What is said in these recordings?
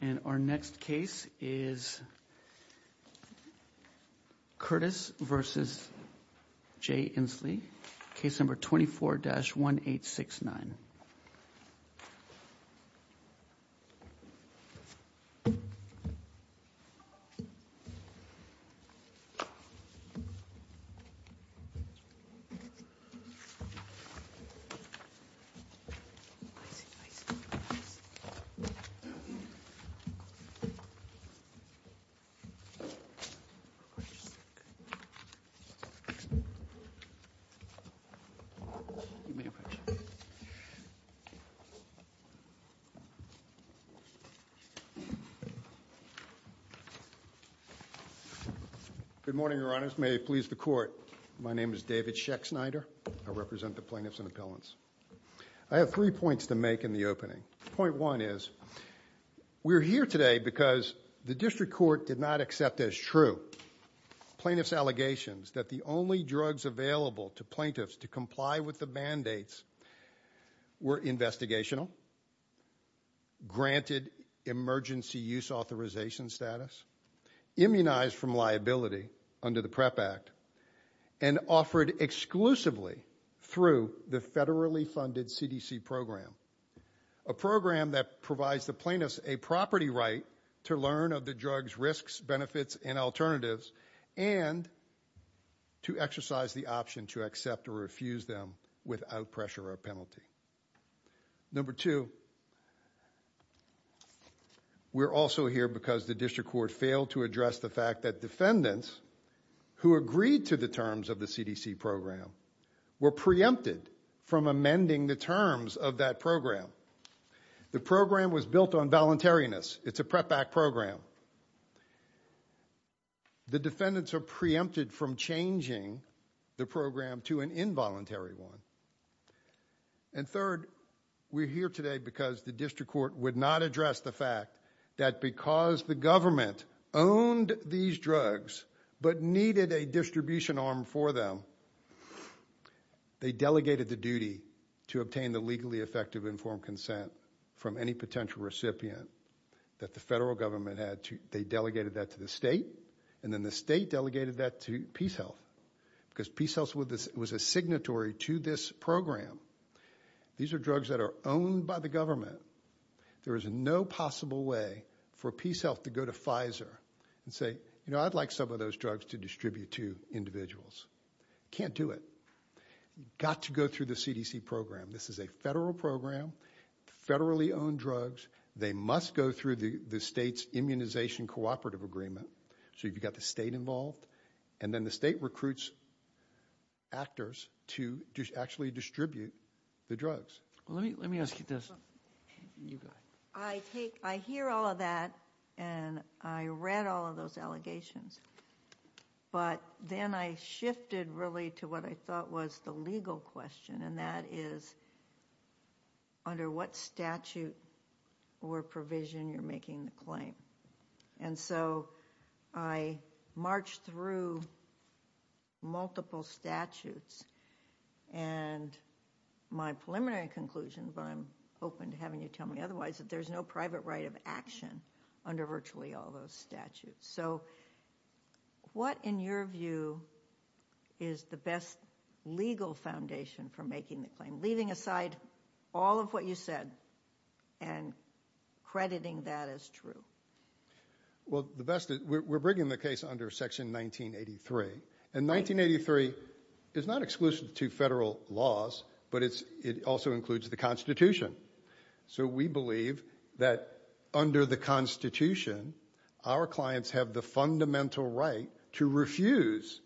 And our next case is Curtis v. J. Inslee, case number 24-1869. Good morning, Your Honors. May it please the Court, my name is David Schechtsnyder. I represent the plaintiffs and appellants. I have three points to make in the opening. Point one is, we're here today because the District Court did not accept as true plaintiff's allegations that the only drugs available to plaintiffs to comply with the mandates were investigational, granted emergency use authorization status, immunized from liability under the PREP Act, and offered exclusively through the federally funded CDC program, a program that provides the plaintiffs a property right to learn of the drug's risks, benefits, and alternatives, and to exercise the option to accept or refuse them without pressure or penalty. Number two, we're also here because the District Court failed to address the fact that defendants who agreed to the terms of the CDC program were preempted from amending the terms of that program. The program was built on voluntariness. It's a PREP Act program. The defendants are preempted from changing the program to an involuntary one. And third, we're here today because the District Court would not address the fact that because the government owned these drugs but needed a distribution arm for them, they delegated the duty to obtain the legally effective informed consent from any potential recipient that the federal government had. They delegated that to the state, and then the state delegated that to PeaceHealth because PeaceHealth was a signatory to this program. These are drugs that are owned by the government. There is no possible way for PeaceHealth to go to Pfizer and say, you know, I'd like some of those drugs to distribute to individuals. Can't do it. Got to go through the CDC program. This is a federal program, federally owned drugs. They must go through the state's immunization cooperative agreement. So you've got the state involved, and then the state recruits actors to actually distribute the drugs. Let me ask you this. You go ahead. I hear all of that, and I read all of those allegations. But then I shifted really to what I thought was the legal question, and that is under what statute or provision you're making the claim. And so I marched through multiple statutes and my preliminary conclusion, but I'm open to having you tell me otherwise, that there's no private right of action under virtually all those statutes. So what, in your view, is the best legal foundation for making the claim, and leaving aside all of what you said and crediting that as true? Well, the best is we're bringing the case under Section 1983. And 1983 is not exclusive to federal laws, but it also includes the Constitution. So we believe that under the Constitution, our clients have the fundamental right to refuse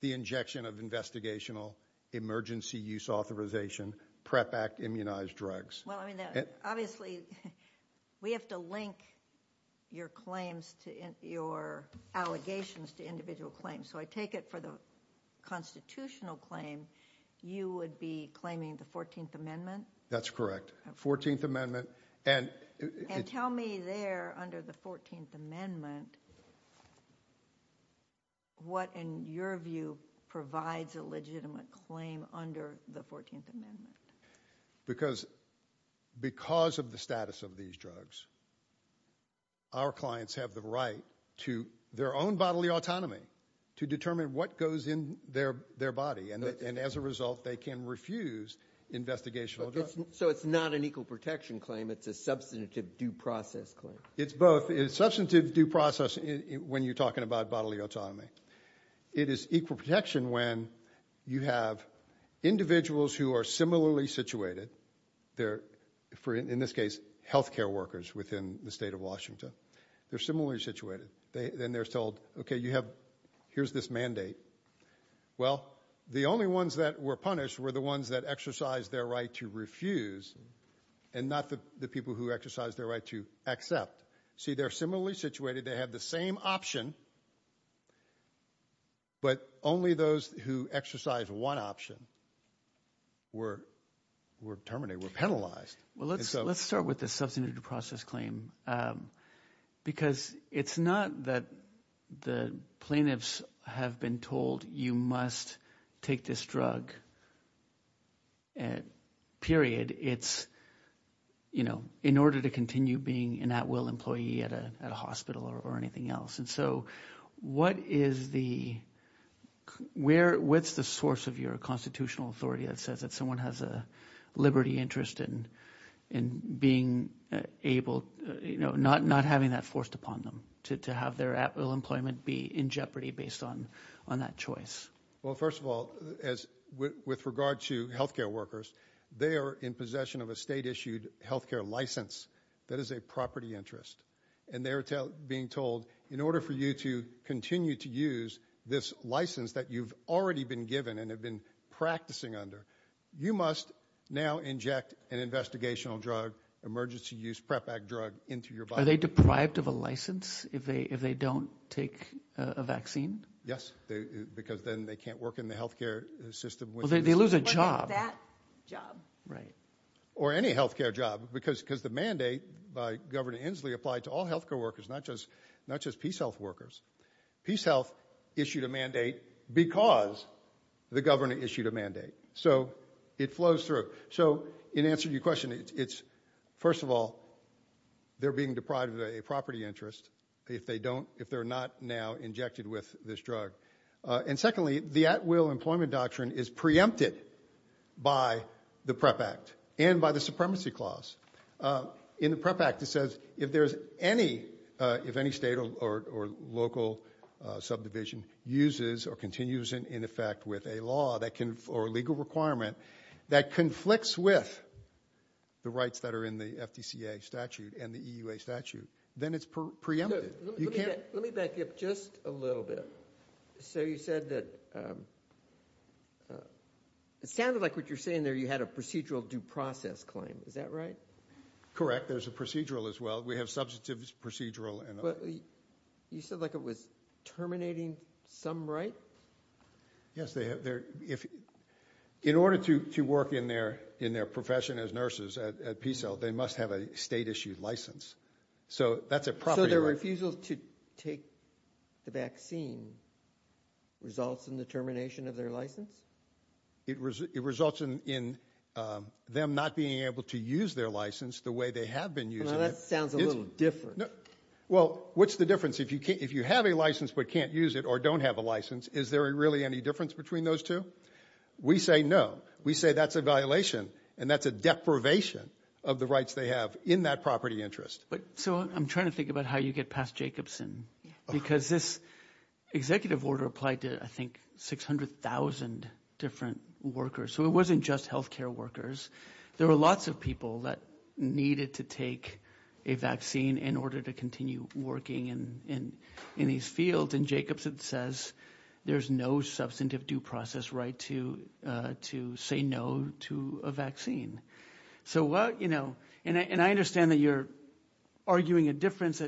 the injection of investigational emergency use authorization, PrEP Act immunized drugs. Well, I mean, obviously, we have to link your claims to your allegations to individual claims. So I take it for the constitutional claim, you would be claiming the 14th Amendment? That's correct, 14th Amendment. And tell me there, under the 14th Amendment, what, in your view, provides a legitimate claim under the 14th Amendment? Because of the status of these drugs, our clients have the right to their own bodily autonomy to determine what goes in their body, and as a result, they can refuse investigational drugs. So it's not an equal protection claim. It's a substantive due process claim. It's both. It's substantive due process when you're talking about bodily autonomy. It is equal protection when you have individuals who are similarly situated. They're, in this case, health care workers within the state of Washington. They're similarly situated. Then they're told, okay, here's this mandate. Well, the only ones that were punished were the ones that exercised their right to refuse and not the people who exercised their right to accept. See, they're similarly situated. They have the same option, but only those who exercise one option were terminated, were penalized. Well, let's start with the substantive due process claim because it's not that the plaintiffs have been told you must take this drug, period. It's, you know, in order to continue being an at-will employee at a hospital or anything else. And so what is the source of your constitutional authority that says that someone has a liberty interest in being able, you know, not having that forced upon them to have their at-will employment be in jeopardy based on that choice? Well, first of all, with regard to health care workers, they are in possession of a state-issued health care license that is a property interest. And they're being told in order for you to continue to use this license that you've already been given and have been practicing under, you must now inject an investigational drug, emergency use PrEP drug into your body. Are they deprived of a license if they don't take a vaccine? Yes, because then they can't work in the health care system. Well, they lose a job. That job. Right. Or any health care job because the mandate by Governor Inslee applied to all health care workers, not just PeaceHealth workers. PeaceHealth issued a mandate because the governor issued a mandate. So it flows through. So in answer to your question, it's, first of all, they're being deprived of a property interest if they don't, if they're not now injected with this drug. And secondly, the at-will employment doctrine is preempted by the PrEP Act and by the Supremacy Clause. In the PrEP Act, it says if there's any, if any state or local subdivision uses or continues in effect with a law or legal requirement that conflicts with the rights that are in the FDCA statute and the EUA statute, then it's preempted. Let me back up just a little bit. So you said that it sounded like what you're saying there, you had a procedural due process claim. Is that right? Correct. There's a procedural as well. We have substantive procedural. You said like it was terminating some right? Yes, they have. In order to work in their profession as nurses at PeaceHealth, they must have a state-issued license. So that's a property right. So their refusal to take the vaccine results in the termination of their license? It results in them not being able to use their license the way they have been using it. That sounds a little different. Well, what's the difference? If you have a license but can't use it or don't have a license, is there really any difference between those two? We say no. We say that's a violation and that's a deprivation of the rights they have in that property interest. So I'm trying to think about how you get past Jacobson because this executive order applied to, I think, 600,000 different workers. So it wasn't just health care workers. There were lots of people that needed to take a vaccine in order to continue working in these fields. And Jacobson says there's no substantive due process right to say no to a vaccine. And I understand that you're arguing a difference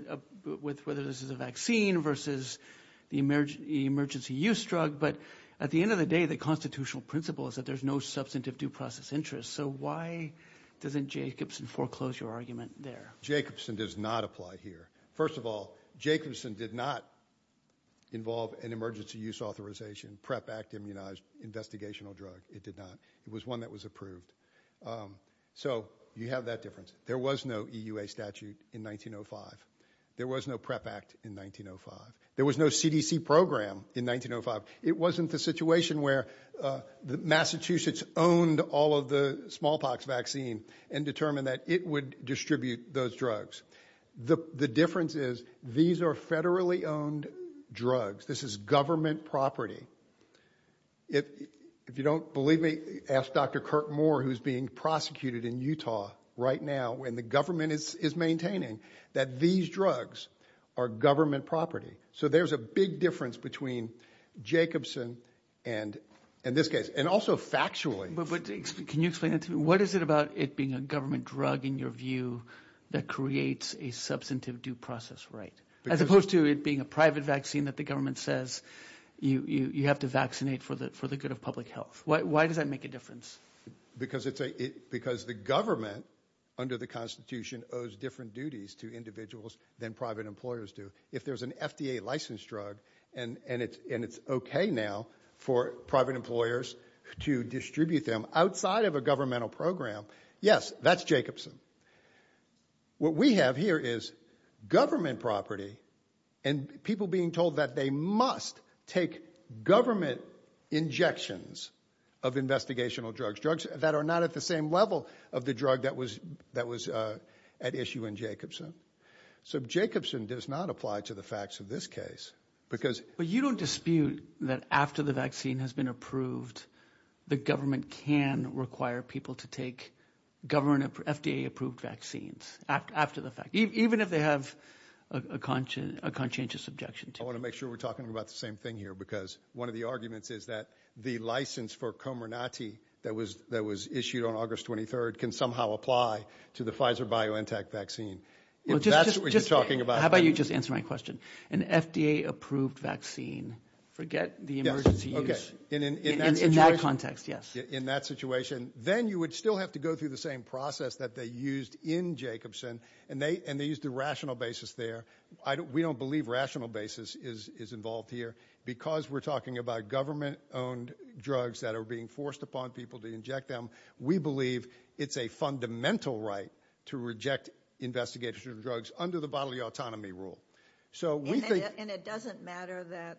with whether this is a vaccine versus the emergency use drug. But at the end of the day, the constitutional principle is that there's no substantive due process interest. So why doesn't Jacobson foreclose your argument there? Jacobson does not apply here. First of all, Jacobson did not involve an emergency use authorization PREP Act immunized investigational drug. It did not. It was one that was approved. So you have that difference. There was no EUA statute in 1905. There was no PREP Act in 1905. There was no CDC program in 1905. It wasn't the situation where Massachusetts owned all of the smallpox vaccine and determined that it would distribute those drugs. The difference is these are federally owned drugs. This is government property. If you don't believe me, ask Dr. Kirk Moore, who's being prosecuted in Utah right now, and the government is maintaining that these drugs are government property. So there's a big difference between Jacobson and this case, and also factually. Can you explain that to me? What is it about it being a government drug, in your view, that creates a substantive due process right, as opposed to it being a private vaccine that the government says you have to vaccinate for the good of public health? Why does that make a difference? Because the government under the Constitution owes different duties to individuals than private employers do. If there's an FDA licensed drug and it's okay now for private employers to distribute them outside of a governmental program, yes, that's Jacobson. What we have here is government property and people being told that they must take government injections of investigational drugs, drugs that are not at the same level of the drug that was at issue in Jacobson. So Jacobson does not apply to the facts of this case. But you don't dispute that after the vaccine has been approved, the government can require people to take FDA approved vaccines after the fact, even if they have a conscientious objection to it. I want to make sure we're talking about the same thing here, because one of the arguments is that the license for Comirnaty that was issued on August 23rd can somehow apply to the Pfizer-BioNTech vaccine. If that's what you're talking about... How about you just answer my question? An FDA approved vaccine, forget the emergency use. In that situation? In that context, yes. In that situation. Then you would still have to go through the same process that they used in Jacobson, and they used a rational basis there. We don't believe rational basis is involved here. Because we're talking about government owned drugs that are being forced upon people to inject them, we believe it's a fundamental right to reject investigational drugs under the bodily autonomy rule. And it doesn't matter that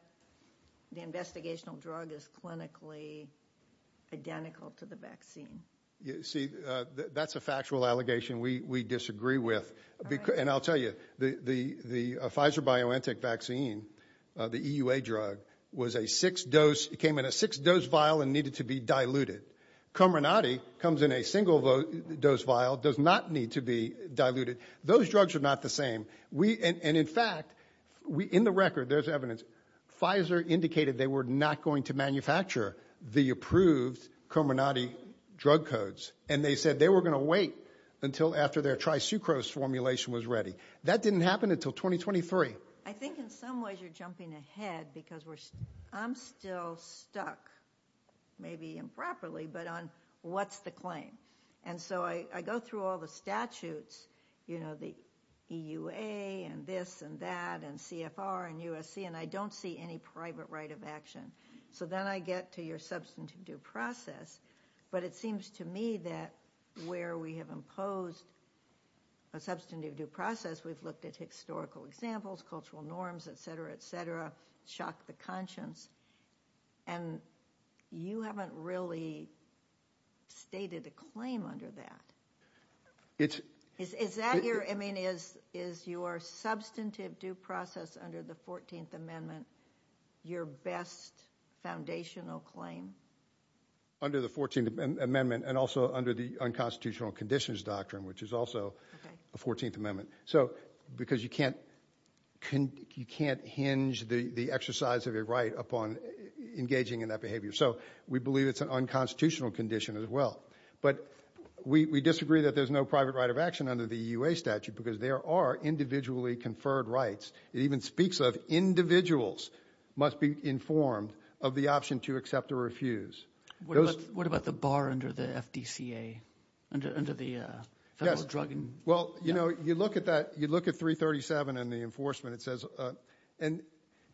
the investigational drug is clinically identical to the vaccine? See, that's a factual allegation we disagree with. And I'll tell you, the Pfizer-BioNTech vaccine, the EUA drug, came in a six-dose vial and needed to be diluted. Comirnaty comes in a single-dose vial, does not need to be diluted. Those drugs are not the same. And in fact, in the record, there's evidence, Pfizer indicated they were not going to manufacture the approved Comirnaty drug codes. And they said they were going to wait until after their trisucrose formulation was ready. That didn't happen until 2023. I think in some ways you're jumping ahead because I'm still stuck, maybe improperly, but on what's the claim. And so I go through all the statutes, you know, the EUA and this and that and CFR and USC, and I don't see any private right of action. So then I get to your substantive due process. But it seems to me that where we have imposed a substantive due process, we've looked at historical examples, cultural norms, et cetera, et cetera, shock the conscience. And you haven't really stated a claim under that. Is your substantive due process under the 14th Amendment your best foundational claim? Under the 14th Amendment and also under the unconstitutional conditions doctrine, which is also a 14th Amendment, because you can't hinge the exercise of a right upon engaging in that behavior. So we believe it's an unconstitutional condition as well. But we disagree that there's no private right of action under the EUA statute because there are individually conferred rights. It even speaks of individuals must be informed of the option to accept or refuse. What about the bar under the FDCA, under the federal drug? Well, you know, you look at that, you look at 337 and the enforcement, it says, and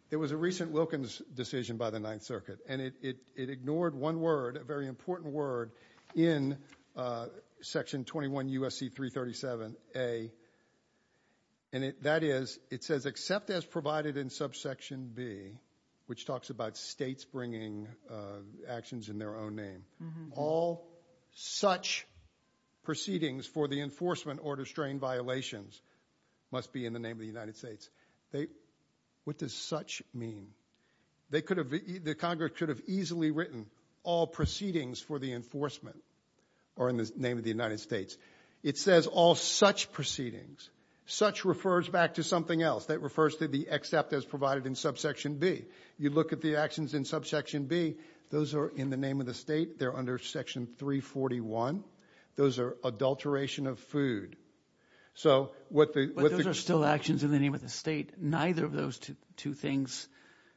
there was a recent Wilkins decision by the Ninth Circuit, and it ignored one word, a very important word in Section 21 USC 337A. And that is, it says, except as provided in subsection B, which talks about states bringing actions in their own name, all such proceedings for the enforcement order strain violations must be in the name of the United States. What does such mean? The Congress could have easily written all proceedings for the enforcement are in the name of the United States. It says all such proceedings. Such refers back to something else. That refers to the except as provided in subsection B. You look at the actions in subsection B. Those are in the name of the state. They're under Section 341. Those are adulteration of food. But those are still actions in the name of the state. Neither of those two things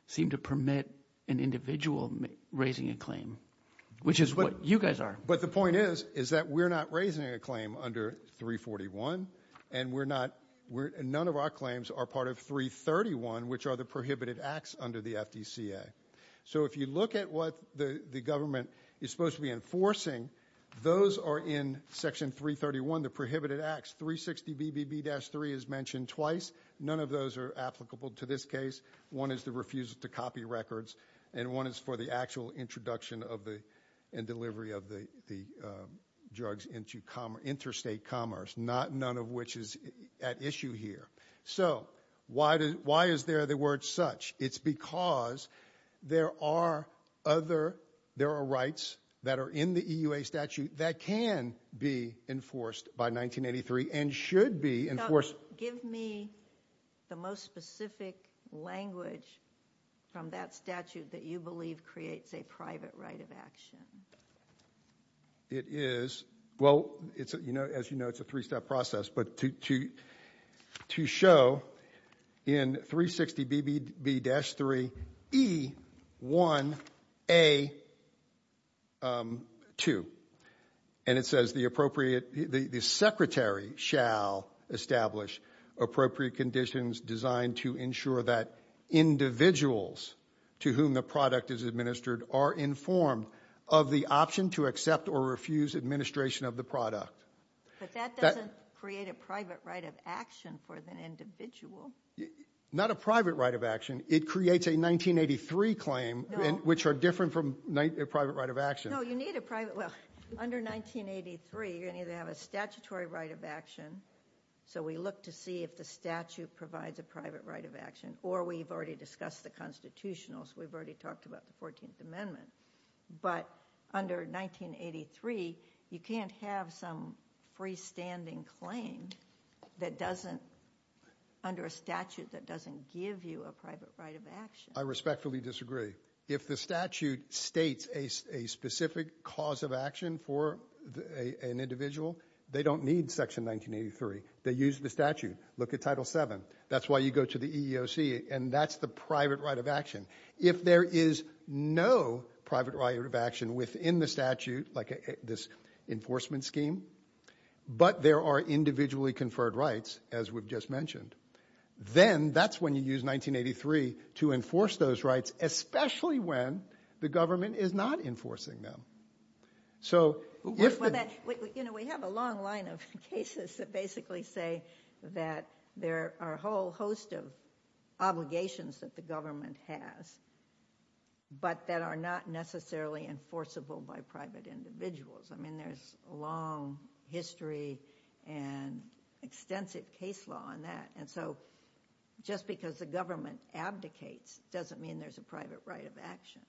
seem to permit an individual raising a claim, which is what you guys are. But the point is, is that we're not raising a claim under 341, and none of our claims are part of 331, which are the prohibited acts under the FDCA. So if you look at what the government is supposed to be enforcing, those are in Section 331, the prohibited acts. 360BBB-3 is mentioned twice. None of those are applicable to this case. One is the refusal to copy records, and one is for the actual introduction and delivery of the drugs into interstate commerce, none of which is at issue here. So why is there the word such? It's because there are rights that are in the EUA statute that can be enforced by 1983 and should be enforced. Give me the most specific language from that statute that you believe creates a private right of action. It is. Well, as you know, it's a three-step process. But to show in 360BBB-3E1A2, and it says, the appropriate the secretary shall establish appropriate conditions designed to ensure that individuals to whom the product is administered are informed of the option to accept or refuse administration of the product. But that doesn't create a private right of action for the individual. Not a private right of action. It creates a 1983 claim, which are different from a private right of action. No, you need a private. Well, under 1983, you're going to have a statutory right of action. So we look to see if the statute provides a private right of action, or we've already discussed the Constitutional, so we've already talked about the 14th Amendment. But under 1983, you can't have some freestanding claim that doesn't, under a statute that doesn't give you a private right of action. I respectfully disagree. If the statute states a specific cause of action for an individual, they don't need Section 1983. They use the statute. Look at Title VII. That's why you go to the EEOC, and that's the private right of action. If there is no private right of action within the statute, like this enforcement scheme, but there are individually conferred rights, as we've just mentioned, then that's when you use 1983 to enforce those rights, especially when the government is not enforcing them. You know, we have a long line of cases that basically say that there are a whole host of obligations that the government has, but that are not necessarily enforceable by private individuals. I mean, there's a long history and extensive case law on that, and so just because the government abdicates doesn't mean there's a private right of action.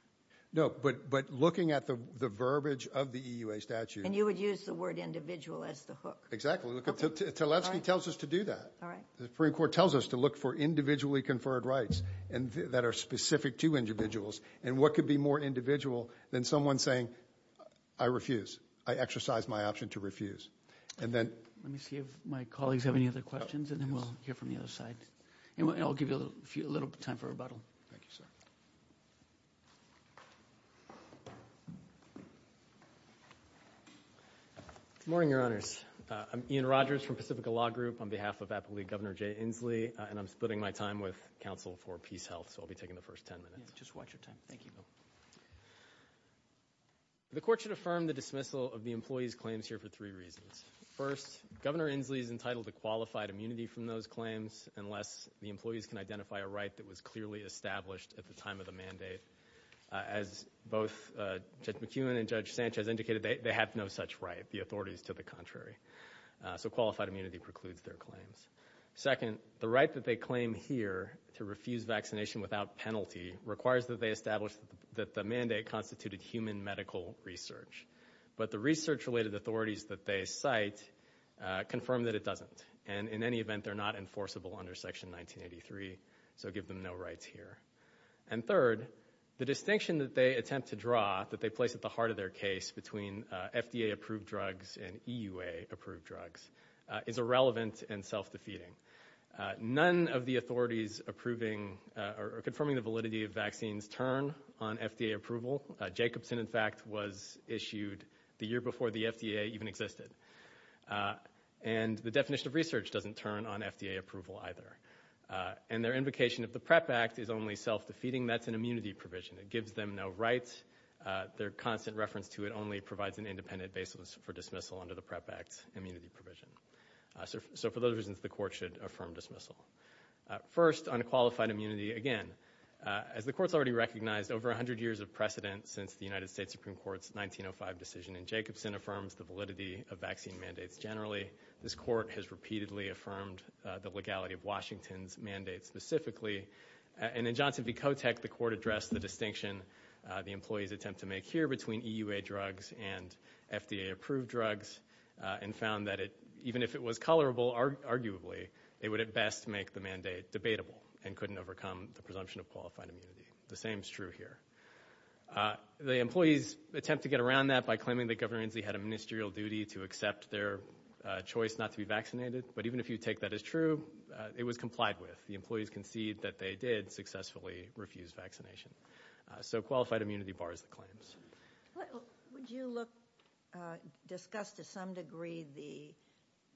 No, but looking at the verbiage of the EUA statute. And you would use the word individual as the hook. Exactly. Teletsky tells us to do that. The Supreme Court tells us to look for individually conferred rights that are specific to individuals, and what could be more individual than someone saying, I refuse. I exercise my option to refuse. Let me see if my colleagues have any other questions, and then we'll hear from the other side. And I'll give you a little time for rebuttal. Thank you, sir. Good morning, Your Honors. I'm Ian Rogers from Pacifica Law Group on behalf of Appellate Governor Jay Inslee, and I'm splitting my time with counsel for PeaceHealth, so I'll be taking the first ten minutes. Just watch your time. Thank you. The court should affirm the dismissal of the employees' claims here for three reasons. First, Governor Inslee is entitled to qualified immunity from those claims unless the employees can identify a right that was clearly established at the time of the mandate. As both Judge McEwen and Judge Sanchez indicated, they have no such right. The authority is to the contrary. So qualified immunity precludes their claims. Second, the right that they claim here to refuse vaccination without penalty requires that they establish that the mandate constituted human medical research. But the research-related authorities that they cite confirm that it doesn't, and in any event they're not enforceable under Section 1983, so give them no rights here. And third, the distinction that they attempt to draw that they place at the heart of their case between FDA-approved drugs and EUA-approved drugs is irrelevant and self-defeating. None of the authorities approving or confirming the validity of vaccines turn on FDA approval. Jacobson, in fact, was issued the year before the FDA even existed. And the definition of research doesn't turn on FDA approval either. And their invocation of the PrEP Act is only self-defeating. That's an immunity provision. It gives them no rights. Their constant reference to it only provides an independent basis for dismissal under the PrEP Act's immunity provision. So for those reasons, the Court should affirm dismissal. First, on qualified immunity, again, as the Court's already recognized, over 100 years of precedent since the United States Supreme Court's 1905 decision in Jacobson affirms the validity of vaccine mandates generally. This Court has repeatedly affirmed the legality of Washington's mandate specifically. And in Johnson v. Kotech, the Court addressed the distinction the employees attempt to make here between EUA drugs and FDA-approved drugs and found that even if it was colorable, arguably, they would at best make the mandate debatable and couldn't overcome the presumption of qualified immunity. The same is true here. The employees attempt to get around that by claiming that Governor Inslee had a ministerial duty to accept their choice not to be vaccinated. But even if you take that as true, it was complied with. The employees concede that they did successfully refuse vaccination. So qualified immunity bars the claims. Would you discuss to some degree the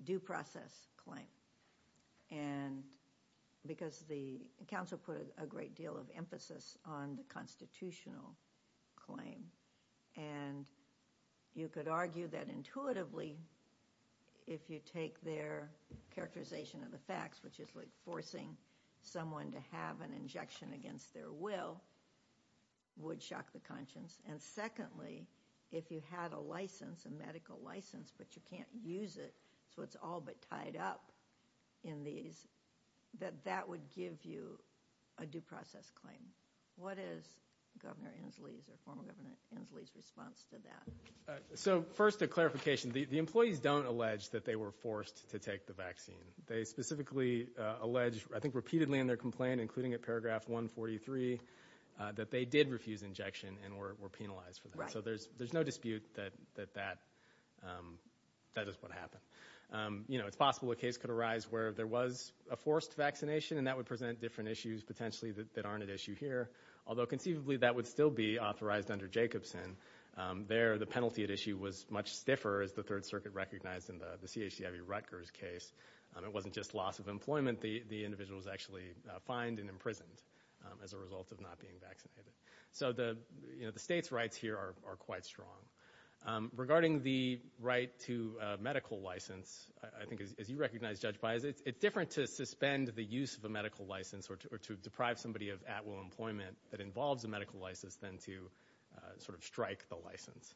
due process claim? Because the counsel put a great deal of emphasis on the constitutional claim. And you could argue that intuitively, if you take their characterization of the facts, which is like forcing someone to have an injection against their will, would shock the conscience. And secondly, if you had a license, a medical license, but you can't use it, so it's all but tied up in these, that that would give you a due process claim. What is Governor Inslee's or former Governor Inslee's response to that? So first a clarification. The employees don't allege that they were forced to take the vaccine. They specifically allege, I think repeatedly in their complaint, including at paragraph 143, that they did refuse injection and were penalized for that. So there's no dispute that that is what happened. You know, it's possible a case could arise where there was a forced vaccination, and that would present different issues potentially that aren't at issue here, although conceivably that would still be authorized under Jacobson. There the penalty at issue was much stiffer, as the Third Circuit recognized in the CHCIV Rutgers case. It wasn't just loss of employment. The individual was actually fined and imprisoned as a result of not being vaccinated. So the state's rights here are quite strong. Regarding the right to medical license, I think as you recognize, Judge Baez, it's different to suspend the use of a medical license or to deprive somebody of at-will employment that involves a medical license than to sort of strike the license.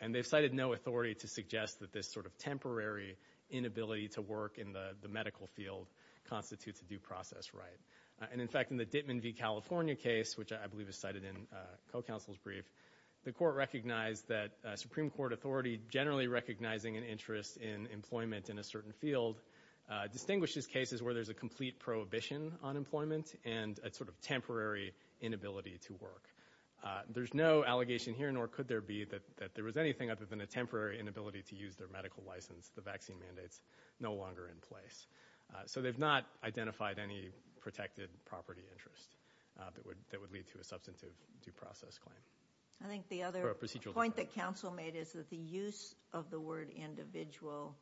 And they've cited no authority to suggest that this sort of temporary inability to work in the medical field constitutes a due process right. And, in fact, in the Dittman v. California case, which I believe is cited in co-counsel's brief, the court recognized that a Supreme Court authority generally recognizing an interest in employment in a certain field distinguishes cases where there's a complete prohibition on employment and a sort of temporary inability to work. There's no allegation here, nor could there be, that there was anything other than a temporary inability to use their medical license. The vaccine mandate's no longer in place. So they've not identified any protected property interest that would lead to a substantive due process claim. I think the other point that counsel made is that the use of the word individual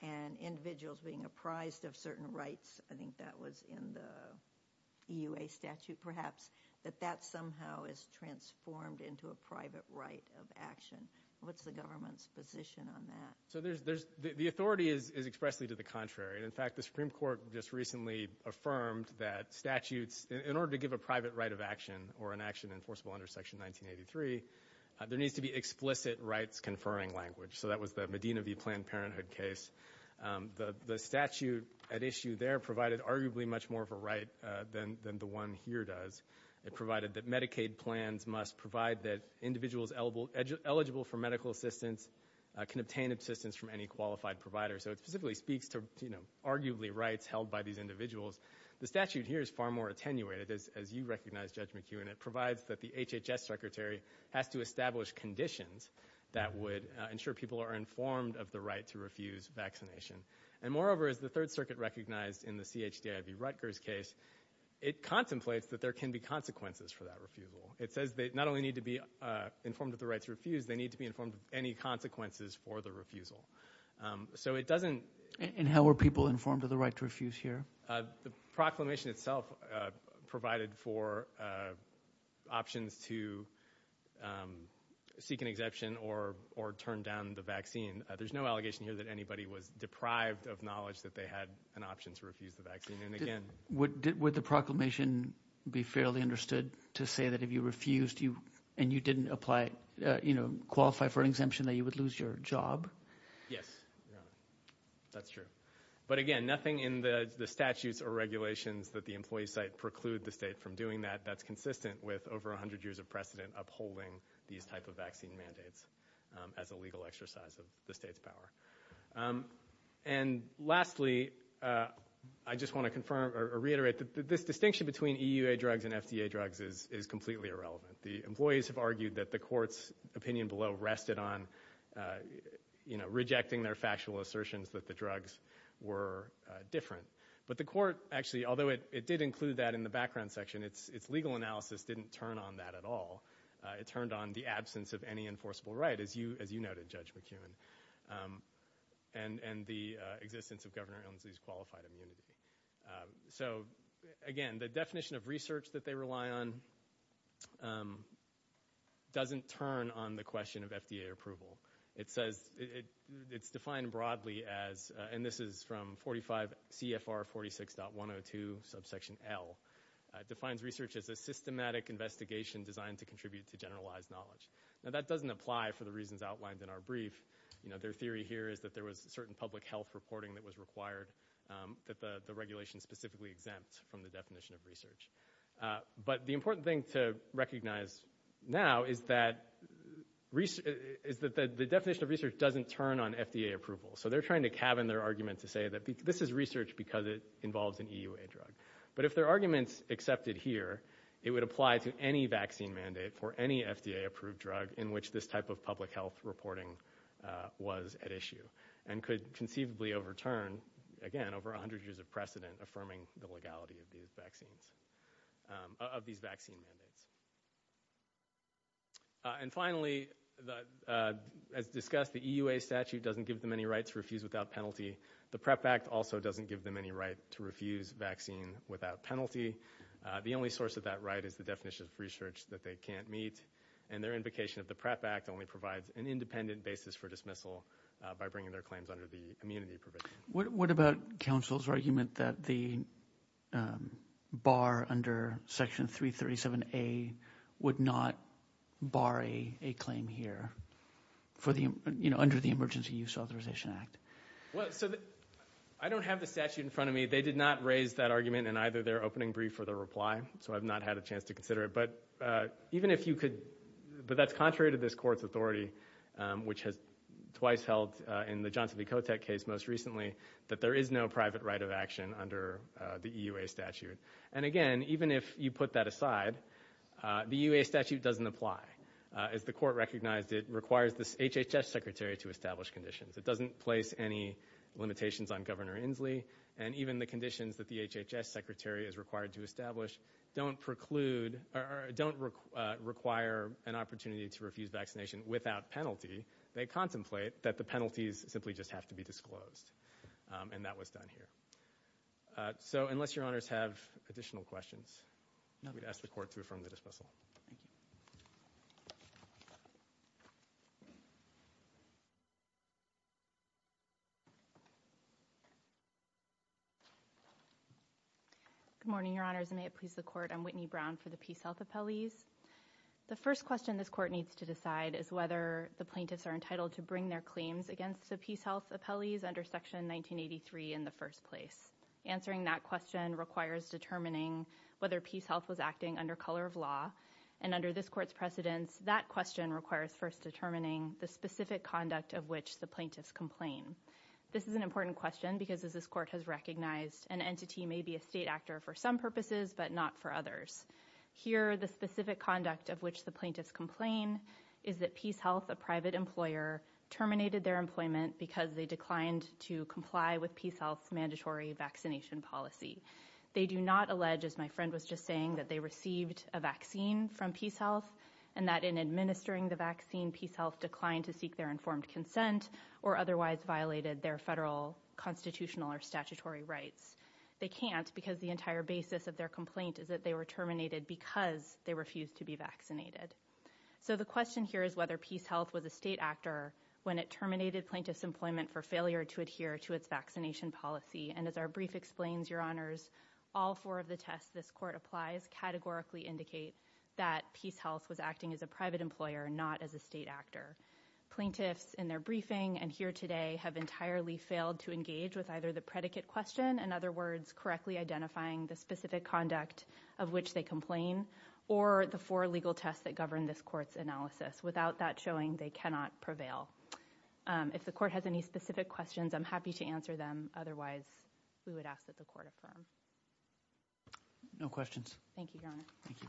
and individuals being apprised of certain rights, I think that was in the EUA statute perhaps, that that somehow is transformed into a private right of action. What's the government's position on that? So the authority is expressly to the contrary. In fact, the Supreme Court just recently affirmed that statutes, in order to give a private right of action or an action enforceable under Section 1983, there needs to be explicit rights-conferring language. So that was the Medina v. Planned Parenthood case. The statute at issue there provided arguably much more of a right than the one here does. It provided that Medicaid plans must provide that individuals eligible for medical assistance can obtain assistance from any qualified provider. So it specifically speaks to arguably rights held by these individuals. The statute here is far more attenuated, as you recognize, Judge McEwen. It provides that the HHS secretary has to establish conditions that would ensure people are informed of the right to refuse vaccination. Moreover, as the Third Circuit recognized in the C.H.D.I. v. Rutgers case, it contemplates that there can be consequences for that refusal. It says they not only need to be informed of the right to refuse, they need to be informed of any consequences for the refusal. So it doesn't... And how were people informed of the right to refuse here? The proclamation itself provided for options to seek an exemption or turn down the vaccine. There's no allegation here that anybody was deprived of knowledge that they had an option to refuse the vaccine. Would the proclamation be fairly understood to say that if you refused and you didn't qualify for an exemption, that you would lose your job? Yes. That's true. But again, nothing in the statutes or regulations that the employee site preclude the state from doing that that's consistent with over 100 years of precedent upholding these type of vaccine mandates as a legal exercise of the state's power. And lastly, I just want to confirm or reiterate that this distinction between EUA drugs and FDA drugs is completely irrelevant. The employees have argued that the court's opinion below rested on rejecting their factual assertions that the drugs were different. But the court actually, although it did include that in the background section, its legal analysis didn't turn on that at all. It turned on the absence of any enforceable right, as you noted, Judge McKeown, and the existence of Governor Inslee's qualified immunity. So again, the definition of research that they rely on doesn't turn on the question of FDA approval. It says it's defined broadly as, and this is from 45 CFR 46.102 subsection L, defines research as a systematic investigation designed to contribute to generalized knowledge. Now that doesn't apply for the reasons outlined in our brief. Their theory here is that there was a certain public health reporting that was required that the regulation specifically exempt from the definition of research. But the important thing to recognize now is that the definition of research doesn't turn on FDA approval. So they're trying to cabin their argument to say that this is research because it involves an EUA drug. But if their argument's accepted here, it would apply to any vaccine mandate for any FDA-approved drug in which this type of public health reporting was at issue and could conceivably overturn, again, over 100 years of precedent, affirming the legality of these vaccine mandates. And finally, as discussed, the EUA statute doesn't give them any right to refuse without penalty. The PREP Act also doesn't give them any right to refuse vaccine without penalty. The only source of that right is the definition of research that they can't meet, and their invocation of the PREP Act only provides an independent basis for dismissal by bringing their claims under the immunity provision. What about counsel's argument that the bar under Section 337A would not bar a claim here under the Emergency Use Authorization Act? Well, I don't have the statute in front of me. They did not raise that argument in either their opening brief or their reply, so I've not had a chance to consider it. But that's contrary to this Court's authority, which has twice held in the Johnson v. Kotek case most recently that there is no private right of action under the EUA statute. And again, even if you put that aside, the EUA statute doesn't apply. As the Court recognized, it requires the HHS Secretary to establish conditions. It doesn't place any limitations on Governor Inslee, and even the conditions that the HHS Secretary is required to establish don't require an opportunity to refuse vaccination without penalty. They contemplate that the penalties simply just have to be disclosed, and that was done here. So unless Your Honors have additional questions, I'm going to ask the Court to affirm the dismissal. Thank you. Good morning, Your Honors, and may it please the Court. I'm Whitney Brown for the PeaceHealth appellees. The first question this Court needs to decide is whether the plaintiffs are entitled to bring their claims against the PeaceHealth appellees under Section 1983 in the first place. Answering that question requires determining whether PeaceHealth was acting under color of law. And under this Court's precedence, that question requires first determining the specific conduct of which the plaintiffs complain. This is an important question because, as this Court has recognized, an entity may be a state actor for some purposes but not for others. Here, the specific conduct of which the plaintiffs complain is that PeaceHealth, a private employer, terminated their employment because they declined to comply with PeaceHealth's mandatory vaccination policy. They do not allege, as my friend was just saying, that they received a vaccine from PeaceHealth and that in administering the vaccine, PeaceHealth declined to seek their informed consent or otherwise violated their federal constitutional or statutory rights. They can't because the entire basis of their complaint is that they were terminated because they refused to be vaccinated. So the question here is whether PeaceHealth was a state actor when it terminated plaintiffs' employment for failure to adhere to its vaccination policy. And as our brief explains, Your Honors, all four of the tests this Court applies categorically indicate that PeaceHealth was acting as a private employer, not as a state actor. Plaintiffs in their briefing and here today have entirely failed to engage with either the predicate question, in other words, correctly identifying the specific conduct of which they complain, or the four legal tests that govern this Court's analysis. Without that showing, they cannot prevail. If the Court has any specific questions, I'm happy to answer them. Otherwise, we would ask that the Court affirm. No questions. Thank you, Your Honor. Thank you.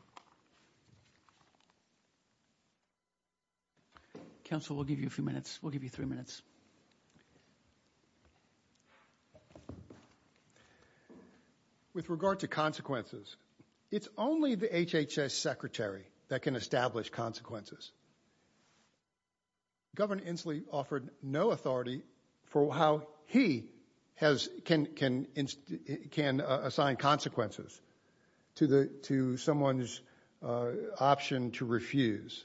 Counsel, we'll give you a few minutes. We'll give you three minutes. With regard to consequences, it's only the HHS Secretary that can establish consequences. Governor Inslee offered no authority for how he can assign consequences to someone's option to refuse.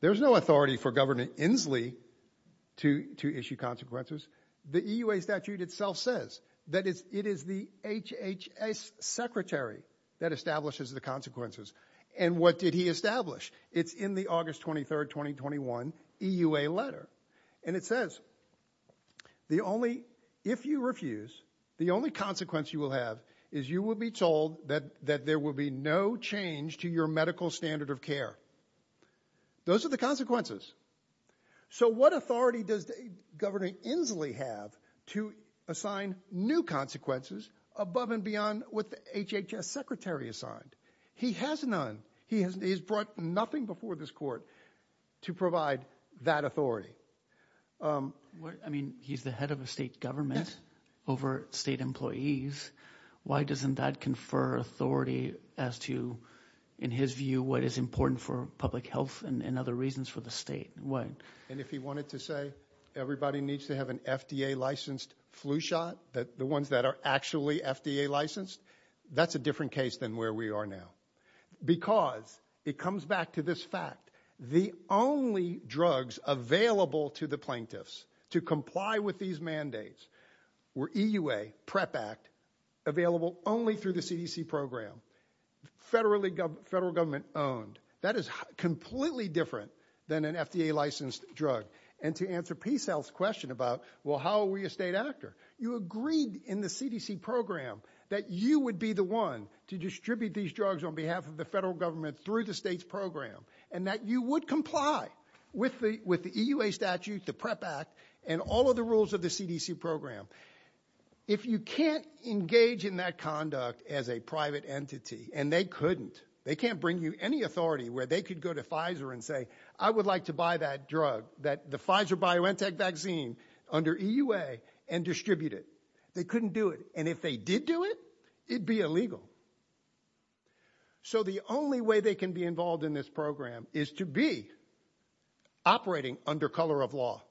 There's no authority for Governor Inslee to issue consequences. The EUA statute itself says that it is the HHS Secretary that establishes the consequences. And what did he establish? It's in the August 23, 2021 EUA letter. And it says, if you refuse, the only consequence you will have is you will be told that there will be no change to your medical standard of care. Those are the consequences. So what authority does Governor Inslee have to assign new consequences above and beyond what the HHS Secretary assigned? He has none. He has brought nothing before this court to provide that authority. I mean, he's the head of a state government over state employees. Why doesn't that confer authority as to, in his view, what is important for public health and other reasons for the state? And if he wanted to say everybody needs to have an FDA-licensed flu shot, the ones that are actually FDA-licensed, that's a different case than where we are now. Because, it comes back to this fact, the only drugs available to the plaintiffs to comply with these mandates were EUA, PrEP Act, available only through the CDC program, federal government-owned. That is completely different than an FDA-licensed drug. And to answer PSAL's question about, well, how are we a state actor? You agreed in the CDC program that you would be the one to distribute these drugs on behalf of the federal government through the state's program, and that you would comply with the EUA statute, the PrEP Act, and all of the rules of the CDC program. If you can't engage in that conduct as a private entity, and they couldn't, they can't bring you any authority where they could go to Pfizer and say, I would like to buy that drug, the Pfizer-BioNTech vaccine, under EUA and distribute it. They couldn't do it. And if they did do it, it'd be illegal. So the only way they can be involved in this program is to be operating under color of law,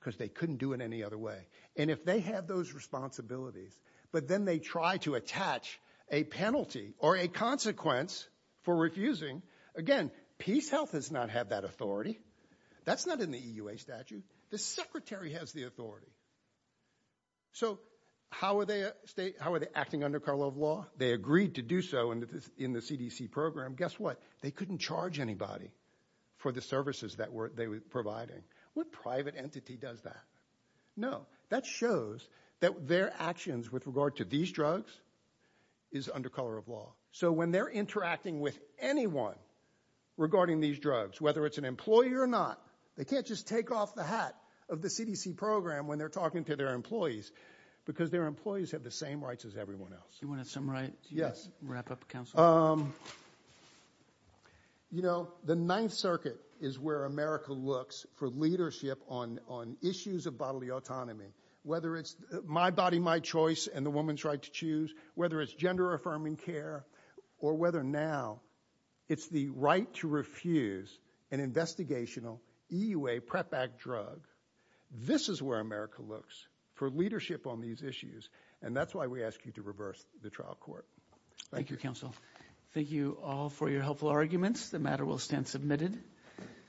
because they couldn't do it any other way. And if they have those responsibilities, but then they try to attach a penalty or a consequence for refusing, again, PeaceHealth does not have that authority. That's not in the EUA statute. The Secretary has the authority. So how are they acting under color of law? They agreed to do so in the CDC program. Guess what? They couldn't charge anybody for the services that they were providing. What private entity does that? No. That shows that their actions with regard to these drugs is under color of law. So when they're interacting with anyone regarding these drugs, whether it's an employer or not, they can't just take off the hat of the CDC program when they're talking to their employees because their employees have the same rights as everyone else. Do you want to summarize? Yes. Wrap up, counsel? You know, the Ninth Circuit is where America looks for leadership on issues of bodily autonomy, whether it's my body, my choice, and the woman's right to choose, whether it's gender-affirming care, or whether now it's the right to refuse an investigational EUA PREP Act drug. This is where America looks for leadership on these issues, and that's why we ask you to reverse the trial court. Thank you, counsel. Thank you all for your helpful arguments. The matter will stand submitted.